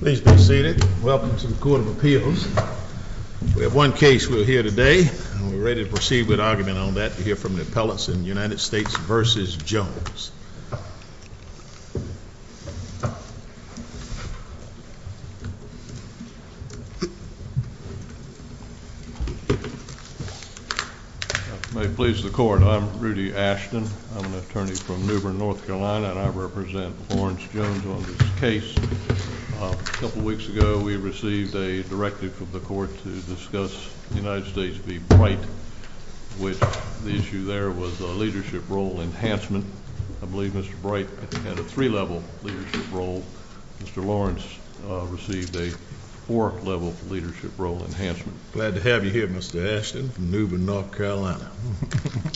Please be seated. Welcome to the Court of Appeals. We have one case we'll hear today, and we're ready to proceed with argument on that to hear from the appellants in United States v. Jones. May it please the Court, I'm Rudy Ashton. I'm an attorney from New Bern, North Carolina, and I represent Lawrence Jones on this case. A couple weeks ago we received a directive from the Court to discuss United States v. Bright, which the issue there was a leadership role enhancement. I believe Mr. Bright had a three-level leadership role. Mr. Lawrence received a four-level leadership role enhancement. Glad to have you here, Mr. Ashton, from New Bern, North Carolina.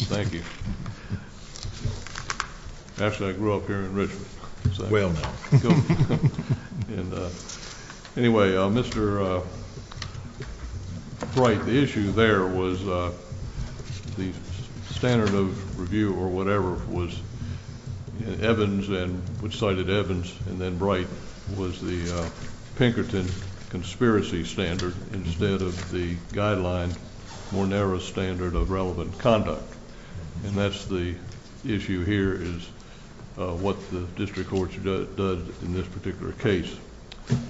Thank you. Actually, I grew up here in Richmond. Anyway, Mr. Bright, the issue there was the standard of review or whatever was Evans and which cited Evans and then Bright was the Pinkerton conspiracy standard instead of the guideline, more narrow standard of relevant conduct. And that's the issue here is what the district courts does in this particular case.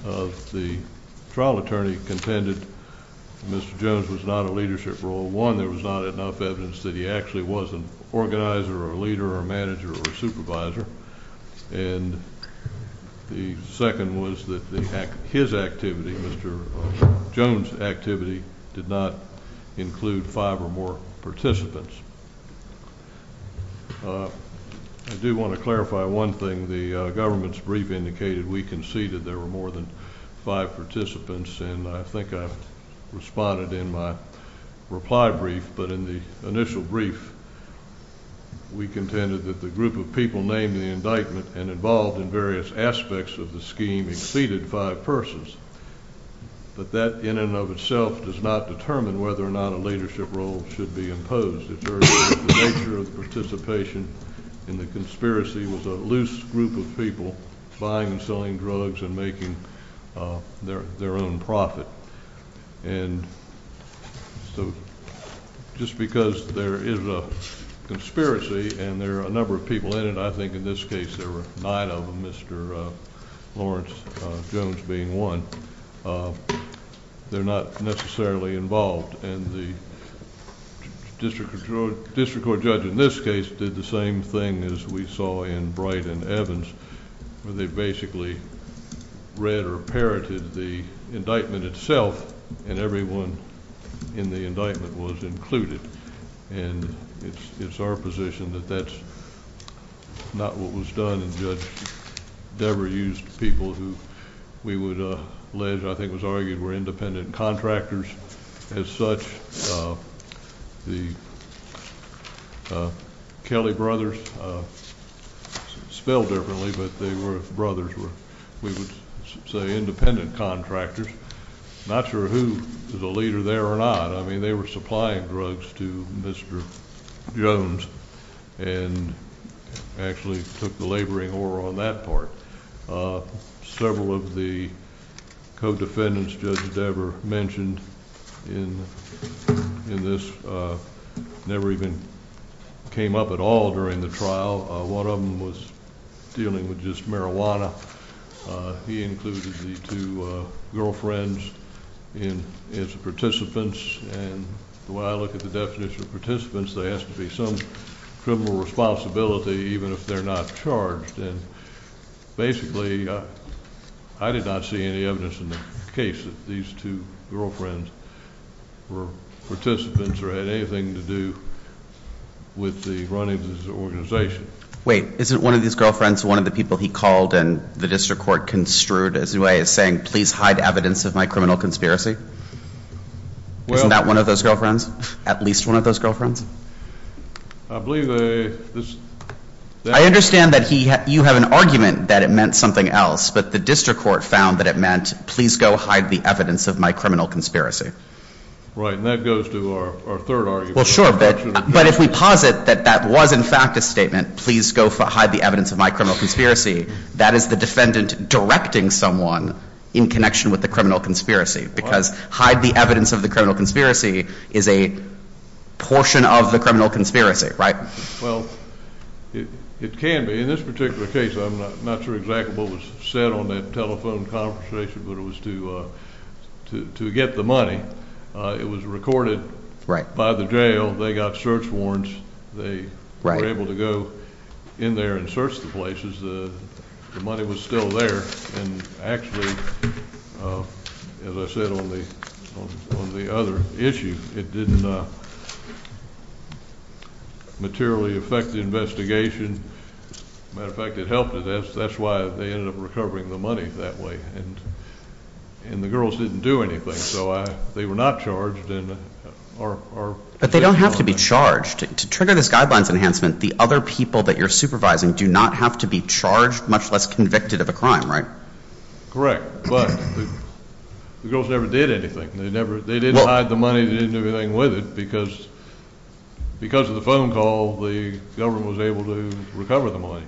The trial attorney contended Mr. Jones was not a leadership role. One, there was not enough evidence that he actually was an organizer or a leader or a manager or a supervisor. And the second was that his activity, Mr. Jones' activity, did not include five or more participants. I do want to clarify one thing. The government's brief indicated we conceded there were more than five participants, and I think I've responded in my reply brief, but in the initial brief we contended that the people named in the indictment and involved in various aspects of the scheme exceeded five persons. But that in and of itself does not determine whether or not a leadership role should be imposed. The nature of the participation in the conspiracy was a loose group of people buying and selling drugs and making their own profit. And so just because there is a conspiracy and there are a I think in this case there were nine of them, Mr. Lawrence Jones being one, they're not necessarily involved. And the district court judge in this case did the same thing as we saw in Bright and Evans, where they basically read or parroted the indictment itself, and everyone in the indictment was included. And it's our position that that's not what was done. And Judge Debra used people who we would, uh, led, I think was argued were independent contractors as such. Uh, the Kelly brothers, uh, spelled differently, but they were brothers were, we would say independent contractors. Not sure who is a leader there or not. I mean, they were supplying drugs to Mr. Jones and actually took the laboring or on that part. Uh, several of the co defendants, Judge Debra mentioned in in this, uh, never even came up at all during the trial. One of them was dealing with just marijuana. Uh, he included the two girlfriends in his participants. And the way I look at the definition of participants, they asked to be some criminal responsibility, even if they're not charged. And basically, I did not see any evidence in the case that these two girlfriends were participants or had anything to do with the running of this organization. Wait, isn't one of these girlfriends one of the people he called and the district court construed as a way of saying, please hide evidence of my criminal conspiracy? Well, that one of those girlfriends, at least one of those girlfriends, I believe a I understand that he you have an argument that it meant something else. But the district court found that it meant please go hide the evidence of my criminal conspiracy. Right. And that goes to our third argument. Well, sure. But if we posit that that was in fact a statement, please go hide the evidence of my criminal conspiracy. That is the defendant directing someone in connection with the criminal conspiracy. Because hide the evidence of the criminal conspiracy is a portion of the criminal conspiracy, right? Well, it can be in this particular case. I'm not sure exactly what was said on that telephone conversation, but it was to to get the money. It was recorded by the jail. They got search warrants. They were able to go in there and search the places. The money was still there. And actually, as I said on the on the other issue, it didn't materially affect the investigation. Matter of fact, it helped us. That's why they ended up recovering the money that way. And and the girls didn't do anything. So they were not charged. But they don't have to be charged to trigger this guidelines enhancement. The other people that you're supervising do not have to be charged, much less convicted of a crime. Right? Correct. But the girls never did anything. They never. They didn't hide the money. They didn't do anything with it because because of the phone call, the government was able to recover the money.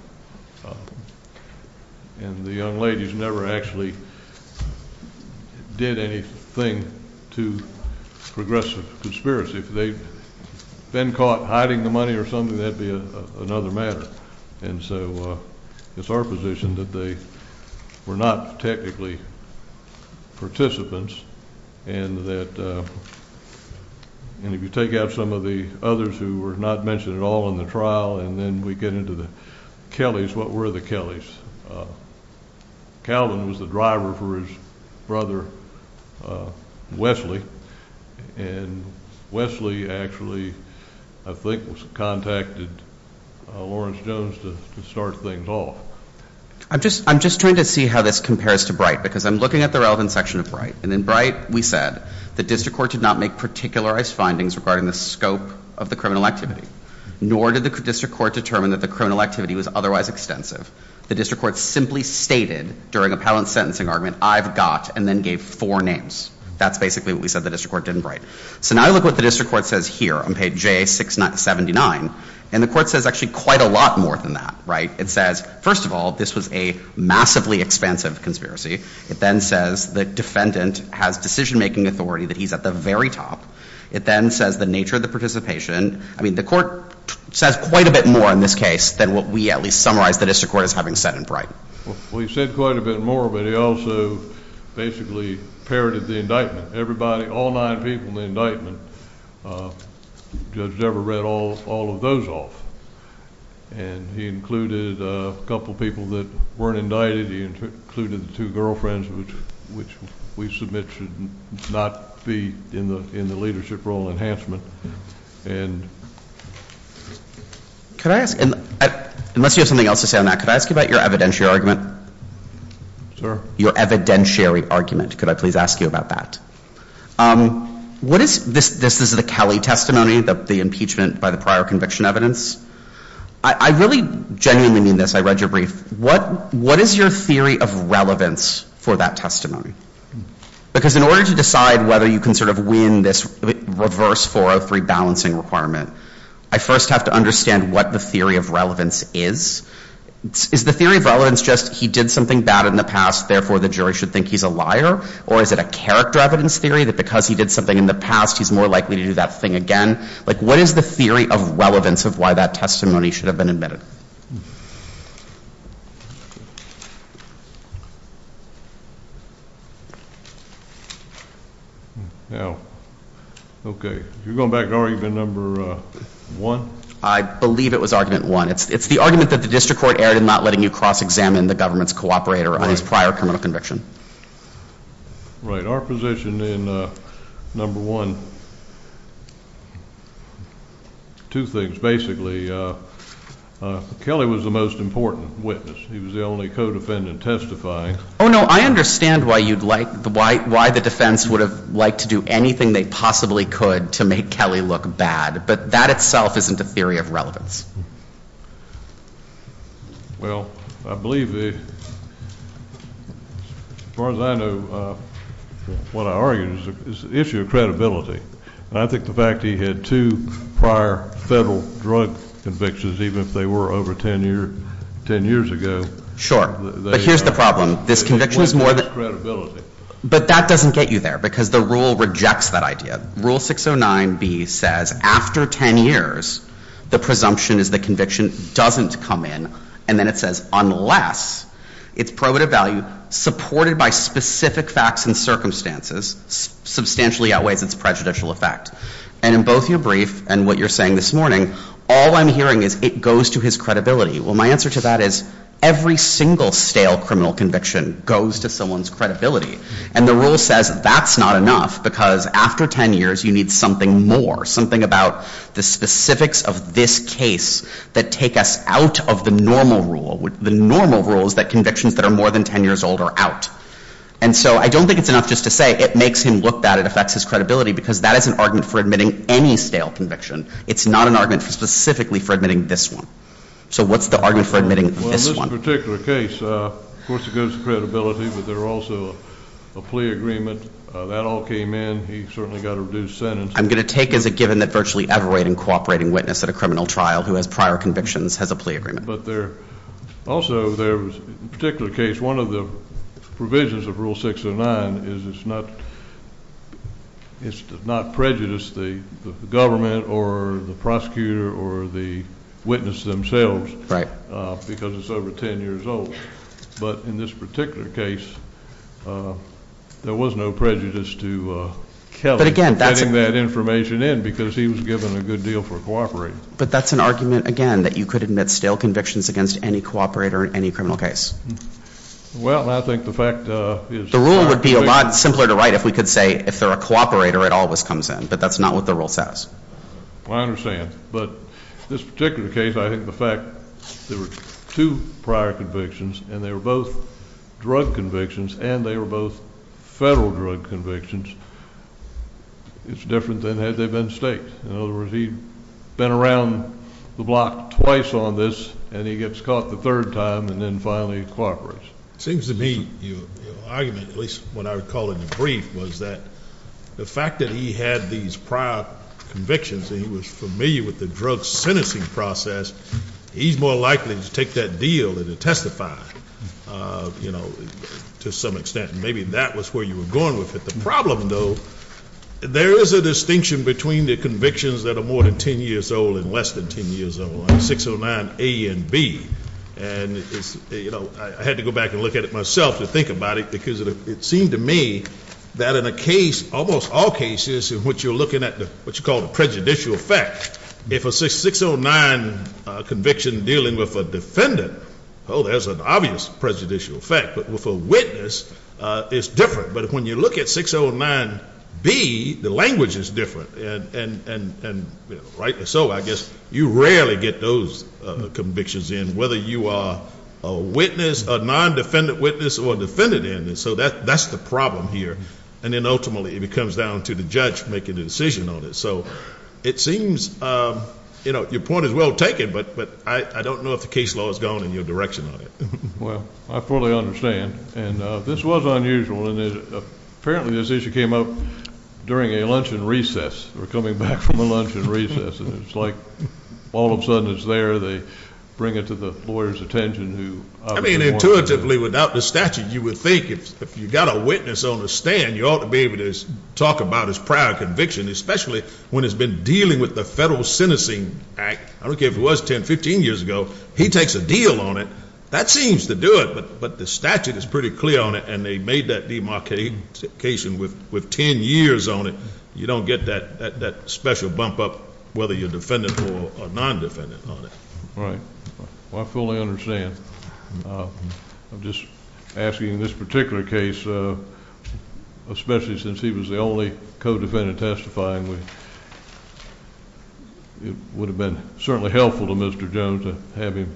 And the young ladies never actually did anything to progressive conspiracy. If they've been caught hiding the money or something, that'd be another matter. And so it's our position that they were not technically participants. And that and if you take out some of the others who were not mentioned at all in the trial, and then we get into the Kelly's, what were the Kelly's? Calvin was the driver for his brother, Wesley. And Wesley actually, I think, contacted Lawrence Jones to start playing ball. I'm just trying to see how this compares to Bright, because I'm looking at the relevant section of Bright. And in Bright, we said, the district court did not make particularized findings regarding the scope of the criminal activity, nor did the district court determine that the criminal activity was otherwise extensive. The district court simply stated, during a patent sentencing argument, I've got, and then gave four names. That's basically what we said the district court did in Bright. So now I look at what the district court says here on page A679, and the court says actually quite a lot more than that, right? It says, first of all, this was a massively expansive conspiracy. It then says the defendant has decision making authority, that he's at the very top. It then says the nature of the participation. I mean, the court says quite a bit more in this case than what we at least summarize the district court as having said in Bright. Well, he said quite a bit more, but he also basically parroted the indictment. Everybody, all nine people in the indictment were indicted. Judge Dever read all of those off, and he included a couple of people that weren't indicted. He included the two girlfriends, which we submit should not be in the leadership role enhancement. And... Could I ask... Unless you have something else to say on that, could I ask you about your evidentiary argument? Sir? Your evidentiary argument. Could I please ask you about that? What is... This is the Kelly testimony, the impeachment by the prior conviction evidence. I really genuinely mean this, I read your brief. What is your theory of relevance for that testimony? Because in order to decide whether you can sort of win this reverse 403 balancing requirement, I first have to understand what the theory of relevance is. Is the theory of relevance just, he did something bad in the past, therefore the jury should think he's a liar, or is it a character evidence theory that because he did something in the past, he's more likely to do that thing again? What is the theory of relevance of why that testimony should have been admitted? Now, okay. You're going back to argument number one? I believe it was argument one. It's the argument that the district court erred in not letting you cross examine the government's cooperator on his prior criminal conviction. Right. Our position in number one, two things basically. Kelly was the most important witness. He was the only co defendant testifying. Oh, no. I understand why you'd like... Why the defense would have liked to do anything they possibly could to make Kelly look bad, but that itself isn't a theory of relevance. Well, I believe the... As far as I know, what I argue is the issue of credibility. And I think the fact he had two prior federal drug convictions, even if they were over 10 years ago... Sure. But here's the problem. This conviction is more than... Credibility. But that doesn't get you there because the rule rejects that idea. Rule 609B says, after 10 years, the presumption is the conviction doesn't come in. And then it says, unless it's probative value supported by specific facts and circumstances substantially outweighs its prejudicial effect. And in both your brief and what you're saying this morning, all I'm hearing is it goes to his credibility. Well, my answer to that is every single stale criminal conviction goes to someone's credibility. And the rule says that's not enough because after 10 years, you need something more, something about the specifics of this case that take us out of the normal rule. The normal rule is that convictions that are more than 10 years old are out. And so I don't think it's enough just to say it makes him look bad, it affects his credibility because that is an argument for admitting any stale conviction. It's not an argument specifically for admitting this one. So what's the argument for admitting this one? Well, in this particular case, of course, it goes to credibility, but there are also a plea agreement. That all came in. He certainly got a reduced sentence. I'm gonna take as a conclusion that virtually every cooperating witness at a criminal trial who has prior convictions has a plea agreement. But there... Also, there was a particular case, one of the provisions of Rule 609 is it's not prejudiced, the government or the prosecutor or the witness themselves because it's over 10 years old. But in this particular case, there was no prejudice to Kelly... But again, that's... Putting that information in because he was given a good deal for cooperating. But that's an argument, again, that you could admit stale convictions against any cooperator in any criminal case. Well, I think the fact is... The rule would be a lot simpler to write if we could say, if they're a cooperator, it always comes in, but that's not what the rule says. Well, I understand. But this particular case, I think the fact there were two prior convictions and they were both drug convictions and they were both federal drug convictions, it's different than had they been state. In other words, he'd been around the block twice on this and he gets caught the third time and then finally he cooperates. It seems to me your argument, at least what I would call it in brief, was that the fact that he had these prior convictions and he was familiar with the drug sentencing process, he's more likely to take that deal and to testify to some extent. Maybe that was where you were going with it. The problem though, there is a distinction between the convictions that are more than 10 years old and less than 10 years old on 609 A and B. And I had to go back and look at it myself to think about it because it seemed to me that in a case, almost all cases in which you're looking at what you call the prejudicial fact, if a 609 conviction dealing with a defendant, oh, there's an obvious prejudicial fact. But with a witness, it's different. But when you look at 609 B, the language is different. And so I guess you rarely get those convictions in, whether you are a witness, a non-defendant witness or a defendant in it. So that's the problem here. And then ultimately it comes down to the judge making the decision on it. So it seems, you know, your point is well taken, but I don't know if the case law has gone in your direction on it. Well, I fully understand. And this was unusual. And apparently this issue came up during a luncheon recess. They were coming back from a luncheon recess. And it's like all of a sudden it's there. They bring it to the lawyer's attention. I mean, intuitively, without the statute, you would think if you got a witness on the stand, you ought to be able to talk about his prior conviction, especially when it's been dealing with the Federal Sentencing Act. I don't care if it was 10, 15 years ago. He takes a deal on it. That seems to do it. But the statute is pretty clear on it. And they made that demarcation with 10 years on it. You don't get that special bump up, whether you're defendant or non-defendant on it. Right. Well, I fully understand. I'm just asking this particular case, especially since he was the only co-defendant testifying, it would have been certainly helpful to Mr. Jones to have him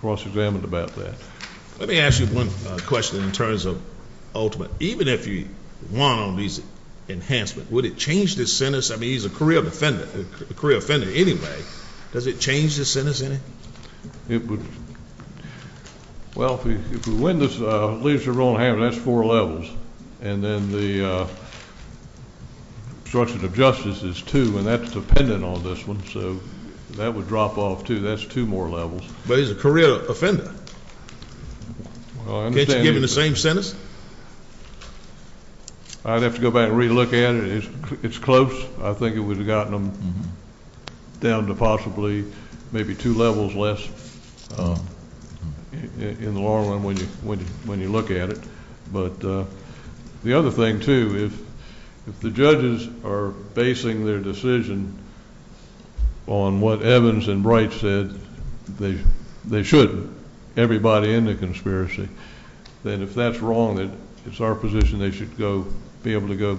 cross-examined about that. Let me ask you one question in terms of ultimate. Even if you won on these enhancements, would it change the sentence? I mean, he's a career defendant, a career offender anyway. Does it change the sentence in it? It would. Well, if we win this, at least we're rolling hammer. That's four levels. And then the obstruction of justice is two. And that's dependent on this one. So that would drop off, too. That's two more levels. But he's a career offender. Can't you give him the same sentence? I'd have to go back and re-look at it. It's close. I think it would have gotten him down to possibly maybe two levels less in the long run when you look at it. But the other thing, too, if the judges are basing their decision on what Evans and Bright said, they should, everybody in the conspiracy, then if that's wrong, it's our position they should be able to go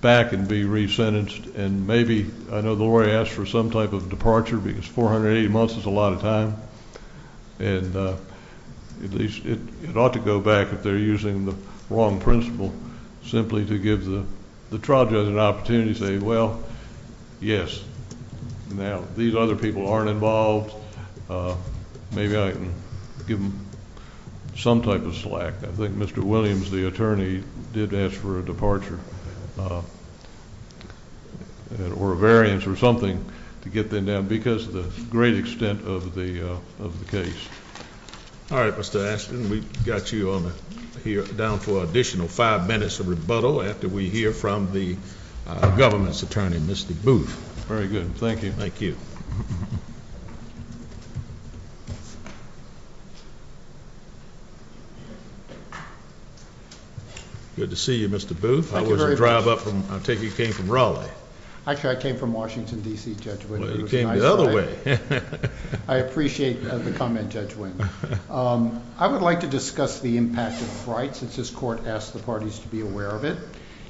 back and be re-sentenced. And maybe, I know the lawyer asked for some type of departure because 480 months is a lot of time. And at least it ought to go back if they're using the wrong principle simply to give the trial judge an opportunity to say, well, yes. Now, these other people aren't involved. Maybe I can give them some type of slack. I think Mr. Williams, the attorney, did ask for a departure or a variance or something to get them down because of the great extent of the case. All right, Mr. Ashton. We've got you down for an additional five minutes of rebuttal after we hear from the government's attorney, Mr. Booth. Very good. Thank you. Good to see you, Mr. Booth. How was the drive up? I take it you came from Raleigh. Actually, I came from Washington, D.C., Judge. You came the other way. I appreciate the comment, Judge Wing. I would like to discuss the impact of Bright since this court asked the parties to be aware of it.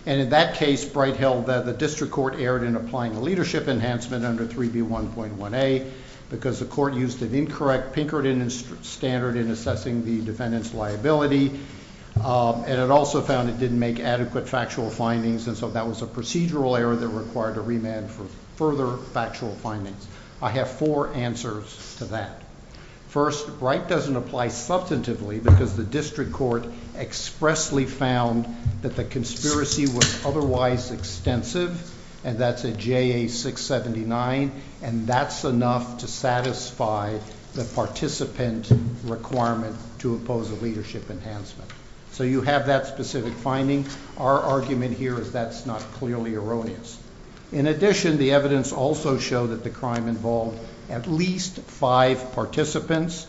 And in that case, Bright held that the district court erred in applying a leadership enhancement under 3B1.1a because the court used an incorrect Pinkerton standard in assessing the defendant's liability. And it also found it didn't make adequate factual findings. And so that was a procedural error that required a remand for further factual findings. I have four answers to that. First, Bright doesn't apply substantively because the district court expressly found that the conspiracy was otherwise extensive. And that's a JA679. And that's enough to satisfy the participant requirement to impose a leadership enhancement. So you have that specific finding. Our argument here is that's not clearly erroneous. In addition, the evidence also showed that the crime involved at least five participants.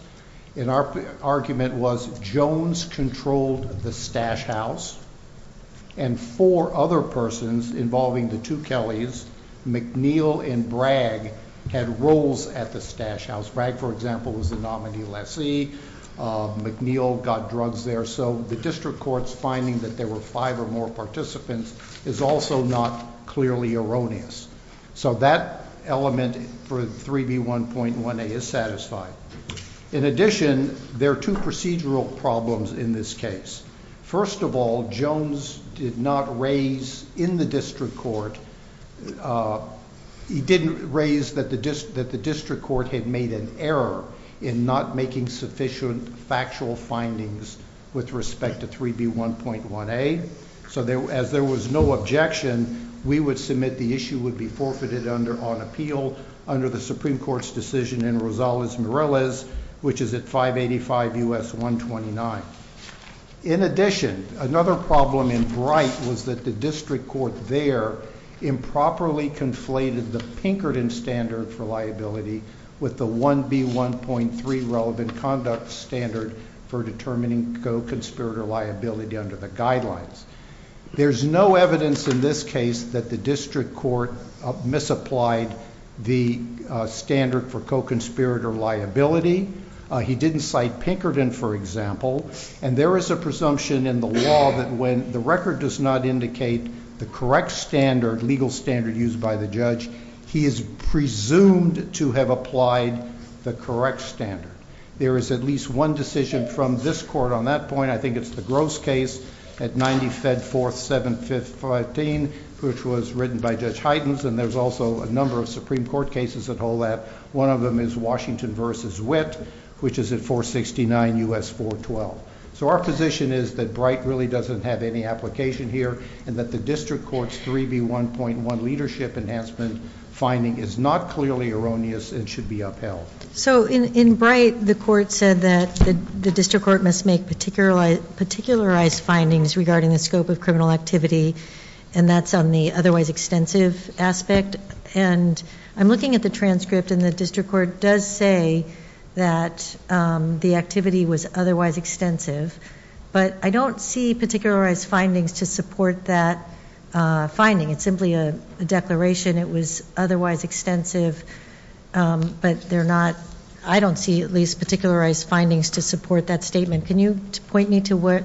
And our argument was Jones controlled the stash house. And four other persons involving the two Kellys, McNeil and Bragg, had roles at the stash house. Bragg, for example, was the nominee lessee. McNeil got drugs there. So the district court's finding that there were five or more participants is also not clearly erroneous. So that element for 3B1.1a is satisfied. In addition, there are two procedural problems in this case. First of all, Jones did not raise in the district court, he didn't raise that the district court had made an error in not making sufficient factual findings with respect to 3B1.1a. So as there was no objection, we would submit the issue would be forfeited on appeal under the Supreme Court's decision in Rosales-Morales, which is at 585 U.S. 129. In addition, another problem in Bright was that the district court there improperly conflated the Pinkerton standard for liability with the 1B1.3 relevant conduct standard for determining co-conspirator liability under the guidelines. There's no evidence in this case that the district court misapplied the standard for co-conspirator liability. He didn't cite Pinkerton, for example, and there is a presumption in the law that when the record does not indicate the correct standard, legal standard used by the judge, he is presumed to have applied the correct standard. There is at least one decision from this court on that point, I think it's the Gross case at 90-Fed-4th-7-5-15, which was written by Judge Heidens, and there's also a number of Supreme Court cases that hold that. One of them is Washington v. Witt, which is at 469 U.S. 412. So our position is that Bright really doesn't have any application here and that the district court's 3B1.1 leadership enhancement finding is not clearly erroneous and should be upheld. So in Bright, the court said that the district court must make particularized findings regarding the scope of criminal activity, and that's on the otherwise extensive aspect. And I'm looking at the transcript and the district court does say that the activity was otherwise extensive, but I don't see particularized findings to support that finding. It's simply a declaration. It was otherwise extensive, but I don't see at least particularized findings to support that statement. Can you point me to what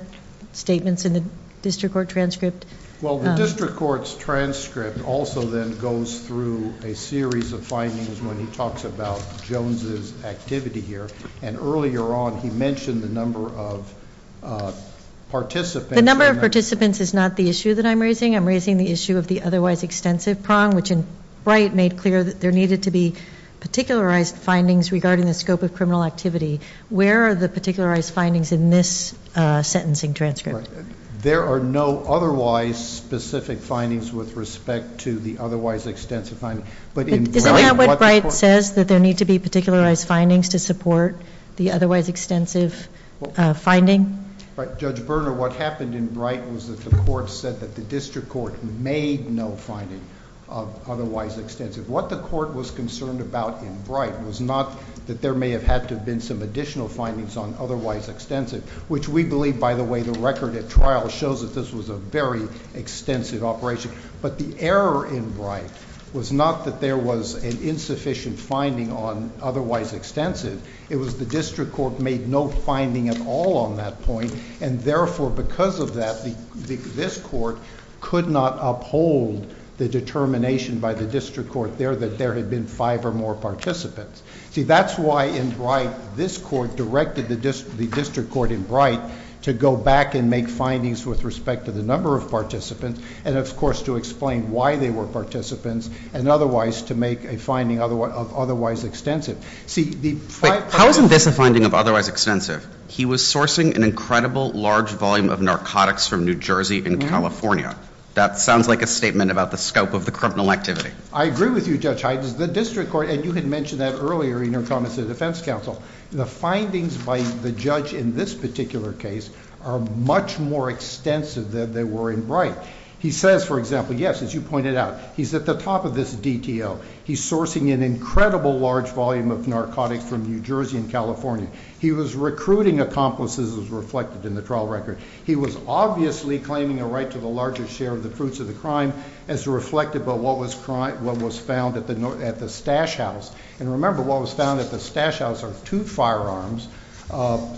statements in the district court transcript? Well, the district court's transcript also then goes through a series of findings when he talks about Jones's activity here. And earlier on, he mentioned the number of participants. The number of participants is not the issue that I'm raising. I'm raising the issue of the otherwise extensive prong, which in Bright made clear that there needed to be particularized findings regarding the scope of criminal activity. Where are the particularized findings in this sentencing transcript? There are no otherwise specific findings with respect to the otherwise extensive finding. But in Bright, what the court... Isn't that what Bright says, that there need to be particularized findings to support the otherwise extensive finding? Judge Berner, what happened in Bright was that the court said that the district court made no finding of otherwise extensive. What the court was concerned about in Bright was not that there may have had to have been some additional findings on otherwise extensive, which we believe, by the way, the record at trial shows that this was a very extensive operation. But the error in Bright was not that there was an insufficient finding on otherwise extensive. It was the district court made no finding at all on that point. And therefore, because of that, this court could not uphold the determination by the district court there that there had been five or more participants. See, that's why in Bright, this court directed the district court in Bright to go back and make findings with respect to the number of participants and, of course, to explain why they were participants and otherwise to make a finding of otherwise extensive. See, the five... How isn't this a finding of otherwise extensive? He was sourcing an incredible large volume of narcotics from New Jersey and California. That sounds like a statement about the scope of the criminal activity. I agree with you, Judge Hydens. The district court, and you had mentioned that earlier in your comments to the defense counsel, the findings by the judge in this particular case are much more extensive than they were in Bright. He says, for example, yes, as you pointed out, he's at the top of this DTO. He's sourcing an incredible large volume of narcotics from New Jersey and California. He was recruiting accomplices as was reflected in the trial record. He was obviously claiming a right to the larger share of the fruits of the crime as reflected by what was found at the Stash House. And remember, what was found at the Stash House are two firearms,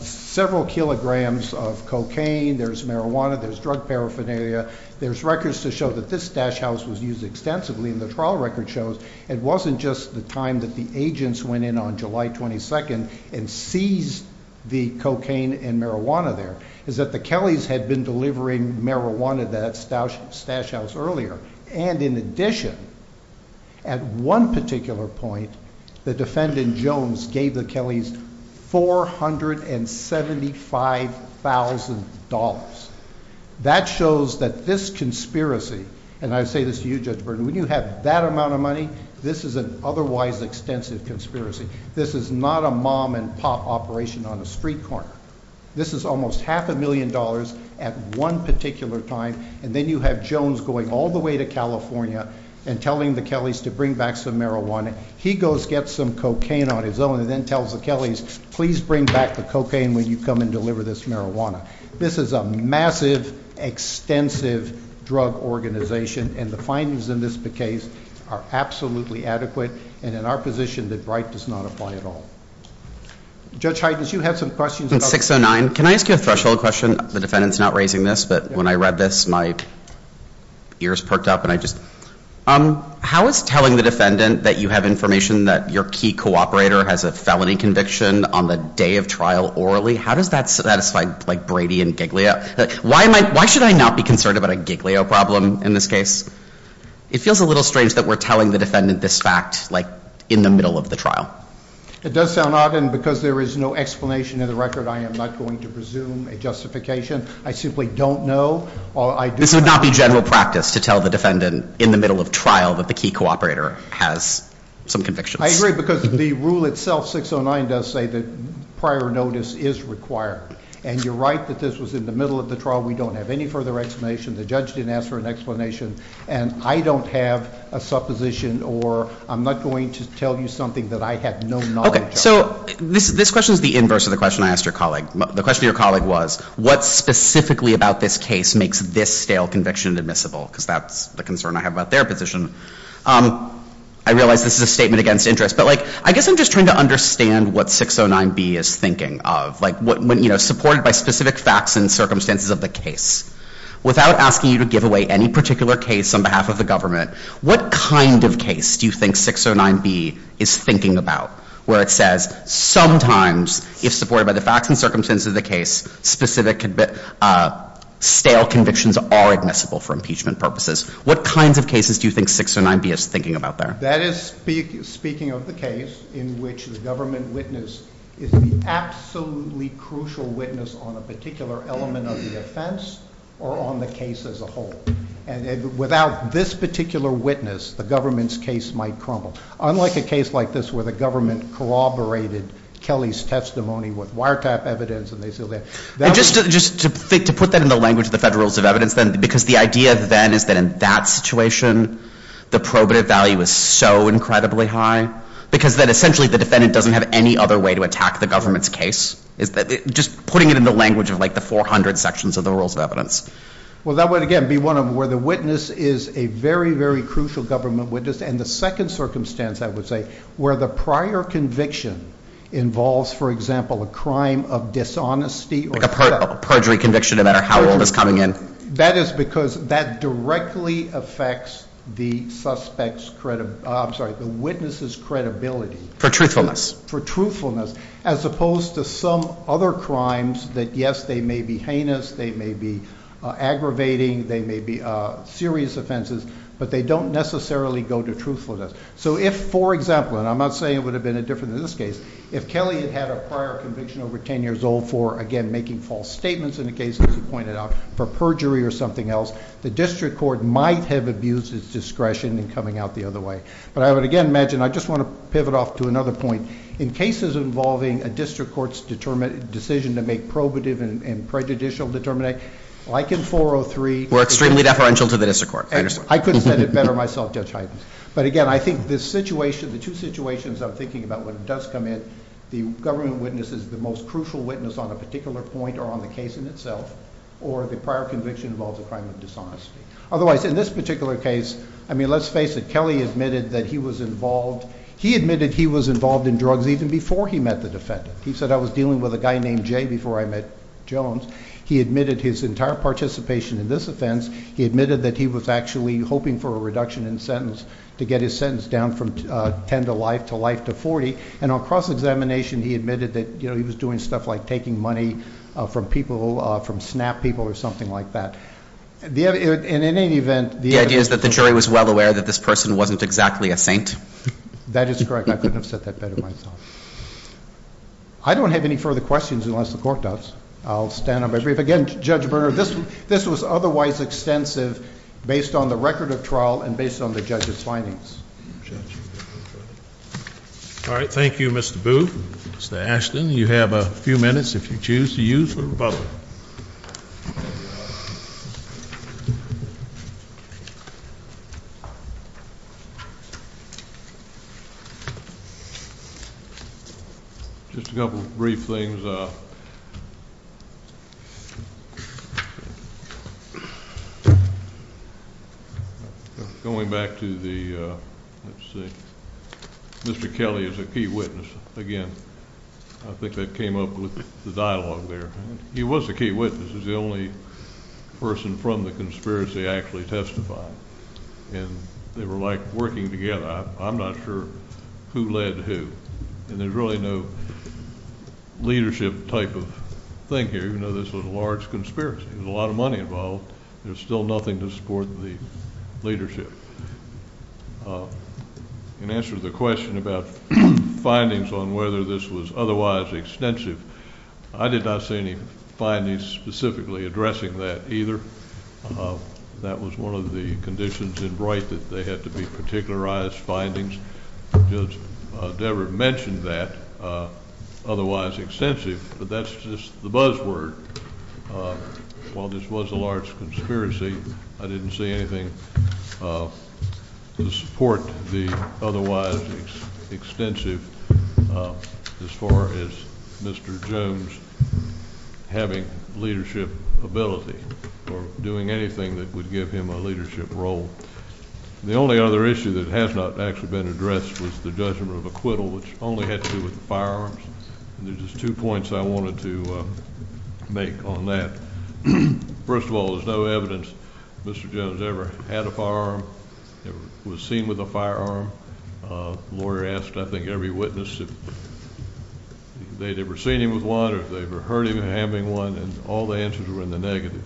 several kilograms of cocaine, there's marijuana, there's drug paraphernalia, there's records to show that this Stash House was used extensively in the trial record shows it wasn't just the time that the agents went in on July 22nd and seized the cocaine and marijuana there, is that the Kellys had been delivering marijuana to that Stash House earlier. And in addition, at one particular point, the defendant Jones gave the Kellys $475,000. That shows that this conspiracy, and I say this to you, Judge Burton, when you have that amount of money, this is an otherwise extensive conspiracy. This is not a mom and pop operation on a street corner. This is almost half a million dollars at one particular time. And then you have Jones going all the way to California and telling the Kellys to bring back some marijuana. He goes, gets some cocaine on his own and then tells the Kellys, please bring back the cocaine when you come and deliver this marijuana. This is a massive, extensive drug organization. And the findings in this case are absolutely adequate. And in our position, the bribe does not apply at all. Judge Heidens, you had some questions. In 609, can I ask you a threshold question? The defendant's not raising this, but when I read this, my ears perked up and I just... How is telling the defendant that you have information that your key cooperator has a felony conviction on the day of trial orally, how does that satisfy like Brady and Giglio? Why should I not be concerned about a Giglio problem in this case? It feels a little strange that we're telling the defendant this fact, like in the middle of the trial. It does sound odd. And because there is no explanation in the record, I am not going to presume a justification. I simply don't know. This would not be general practice to tell the defendant in the middle of trial that the key cooperator has some convictions. I agree because the rule itself, 609, does say that prior notice is required. And you're right that this was in the middle of the trial. We don't have any further explanation. The judge didn't ask for an explanation. And I don't have a supposition or I'm not going to tell you something that I have no knowledge of. Okay, so this question is the inverse of the question I asked your colleague. The question your colleague was, what specifically about this case makes this stale conviction admissible? Because that's the concern I have about their position. I realize this is a statement against interest, but I guess I'm just trying to understand what 609B is thinking of. Supported by specific facts and circumstances of the case. Without asking you to give away any particular case on behalf of the government, what kind of case do you think 609B is thinking about? Where it says, sometimes, if supported by the facts and circumstances of the case, specific stale convictions are admissible for impeachment purposes. What kinds of cases do you think 609B is thinking about there? That is speaking of the case in which the government witness is the absolutely crucial witness on a particular element of the offense or on the case as a whole. And without this particular witness, the government's case might crumble. Unlike a case like this where the government corroborated Kelly's testimony with wiretap evidence. And just to put that in the language of the Federal Rules of Evidence then, because the idea then is that in that situation, the probative value is so incredibly high. Because then essentially the defendant doesn't have any other way to attack the government's case. Is that just putting it in the language of like the 400 sections of the Rules of Evidence? Well, that would, again, be one of where the witness is a very, very crucial government witness. And the second circumstance, I would say, where the prior conviction involves, for example, a crime of dishonesty. Like a perjury conviction, no matter how old it's coming in. That is because that directly affects the witness's credibility. For truthfulness. For truthfulness, as opposed to some other crimes that, yes, they may be heinous, they may be aggravating, they may be serious offenses, but they don't necessarily go to truthfulness. So if, for example, and I'm not saying it would have been a different in this case, if Kelly had had a prior conviction over 10 years old for, again, making false statements in a case, as you pointed out, for perjury or something else, the district court might have abused its discretion in coming out the other way. But I would, again, imagine, I just want to pivot off to another point. In cases involving a district court's decision to make probative and prejudicial determinate, like in 403. We're extremely deferential to the district court. I could have said it better myself, Judge Hyden. But again, I think this situation, the two situations I'm thinking about when it does come in, the government witness is the most crucial witness on a particular point or on the case in itself, or the prior conviction involves a crime of dishonesty. Otherwise, in this particular case, I mean, let's face it. Kelly admitted that he was involved. He admitted he was involved in drugs even before he met the defendant. He said, I was dealing with a guy named Jay before I met Jones. He admitted his entire participation in this offense. He admitted that he was actually hoping for a reduction in sentence to get his sentence down from 10 to life to life to 40. And on cross-examination, he admitted that he was doing stuff like taking money from people, from SNAP people or something like that. In any event, the idea is that the jury was well aware that this person wasn't exactly a saint. That is correct. I couldn't have said that better myself. I don't have any further questions unless the court does. I'll stand up. Again, Judge Berner, this was otherwise extensive based on the record of trial and based on the judge's findings. All right. Thank you, Mr. Boo. Mr. Ashton, you have a few minutes if you choose to use the rebuttal. Just a couple of brief things. Going back to the, let's see, Mr. Kelly is a key witness. Again, I think that came up with the dialogue there. He was a key witness. He's the only person from the conspiracy I actually testified. And they were like working together. I'm not sure who led who. And there's really no leadership type of thing here. You know, this was a large conspiracy. There's a lot of money involved. There's still nothing to support the leadership. In answer to the question about findings on whether this was otherwise extensive, I did not see any findings specifically addressing that either. That was one of the conditions in Bright that they had to be particularized findings. Judge Devereux mentioned that otherwise extensive, but that's just the buzzword. While this was a large conspiracy, I didn't see anything to support the otherwise extensive as far as Mr. Jones having leadership ability or doing anything that would give him a leadership role. The only other issue that has not actually been addressed was the judgment of acquittal, which only had to do with the firearms. And there's just two points I wanted to make on that. First of all, there's no evidence Mr. Jones ever had a firearm, never was seen with a firearm. Lawyer asked, I think, every witness if they'd ever seen him with one or if they ever heard him having one, and all the answers were in the negative.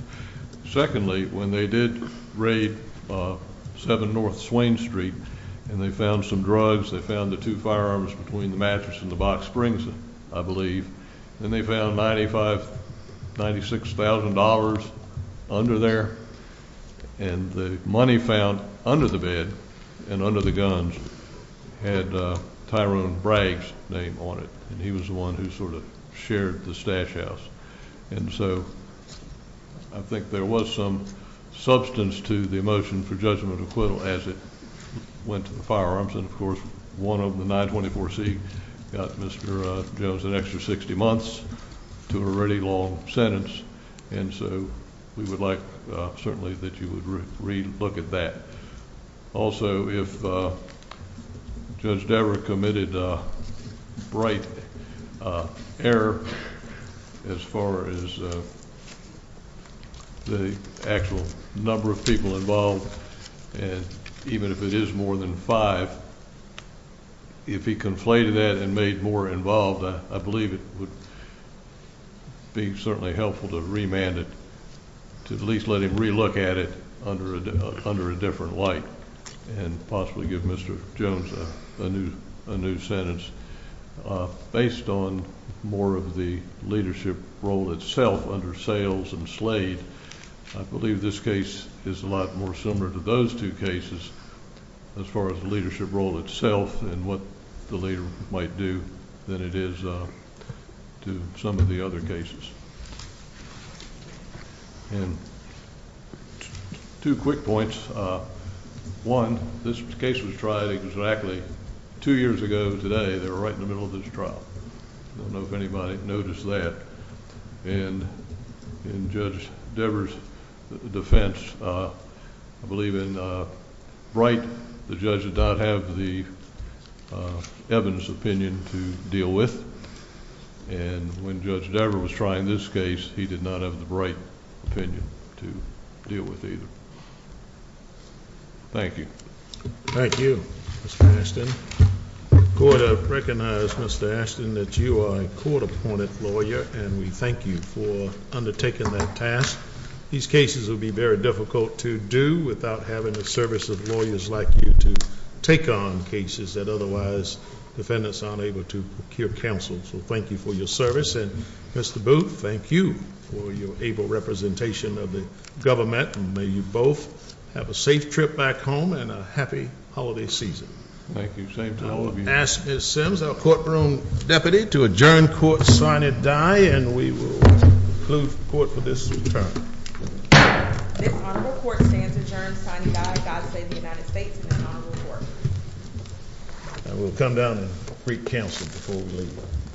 Secondly, when they did raid 7 North Swain Street and they found some drugs, they found the two firearms between the mattress and the box springs, I believe. And they found $95,000, $96,000 under there. And the money found under the bed and under the guns had Tyrone Bragg's name on it. And he was the one who sort of shared the stash house. And so I think there was some substance to the motion for judgment of acquittal as it went to the firearms. And of course, one of the 924C got Mr. Jones an extra 60 months to a really long sentence. And so we would like certainly that you would re-look at that. Also, if Judge Dever committed a bright error as far as the actual number of people involved, and even if it is more than five, if he conflated that and made more involved, I believe it would be certainly helpful to remand it, to at least let him re-look at it under a different light and possibly give Mr. Jones a new sentence. Based on more of the leadership role itself under Sayles and Slade, I believe this case is a lot more similar to those two cases as far as the leadership role itself and what the leader might do than it is to some of the other cases. And two quick points. One, this case was tried exactly two years ago today. They were right in the middle of this trial. I don't know if anybody noticed that. And in Judge Dever's defense, I believe in Bright, the judge did not have the evidence opinion to deal with. And when Judge Dever was trying this case, he did not have the Bright opinion to deal with either. Thank you. Thank you, Mr. Ashton. Court, I recognize, Mr. Ashton, that you are a court-appointed lawyer and we thank you for undertaking that task. These cases will be very difficult to do without having the service of lawyers like you to take on cases that otherwise defendants aren't able to procure counsel. So thank you for your service. And Mr. Booth, thank you for your able representation of the government. And may you both have a safe trip back home and a happy holiday season. Thank you, same to all of you. I will ask Ms. Sims, our courtroom deputy, to adjourn court sine die and we will conclude court for this term. This honorable court stands adjourned sine die, God save the United States and this honorable court. And we'll come down and recounsel before we leave.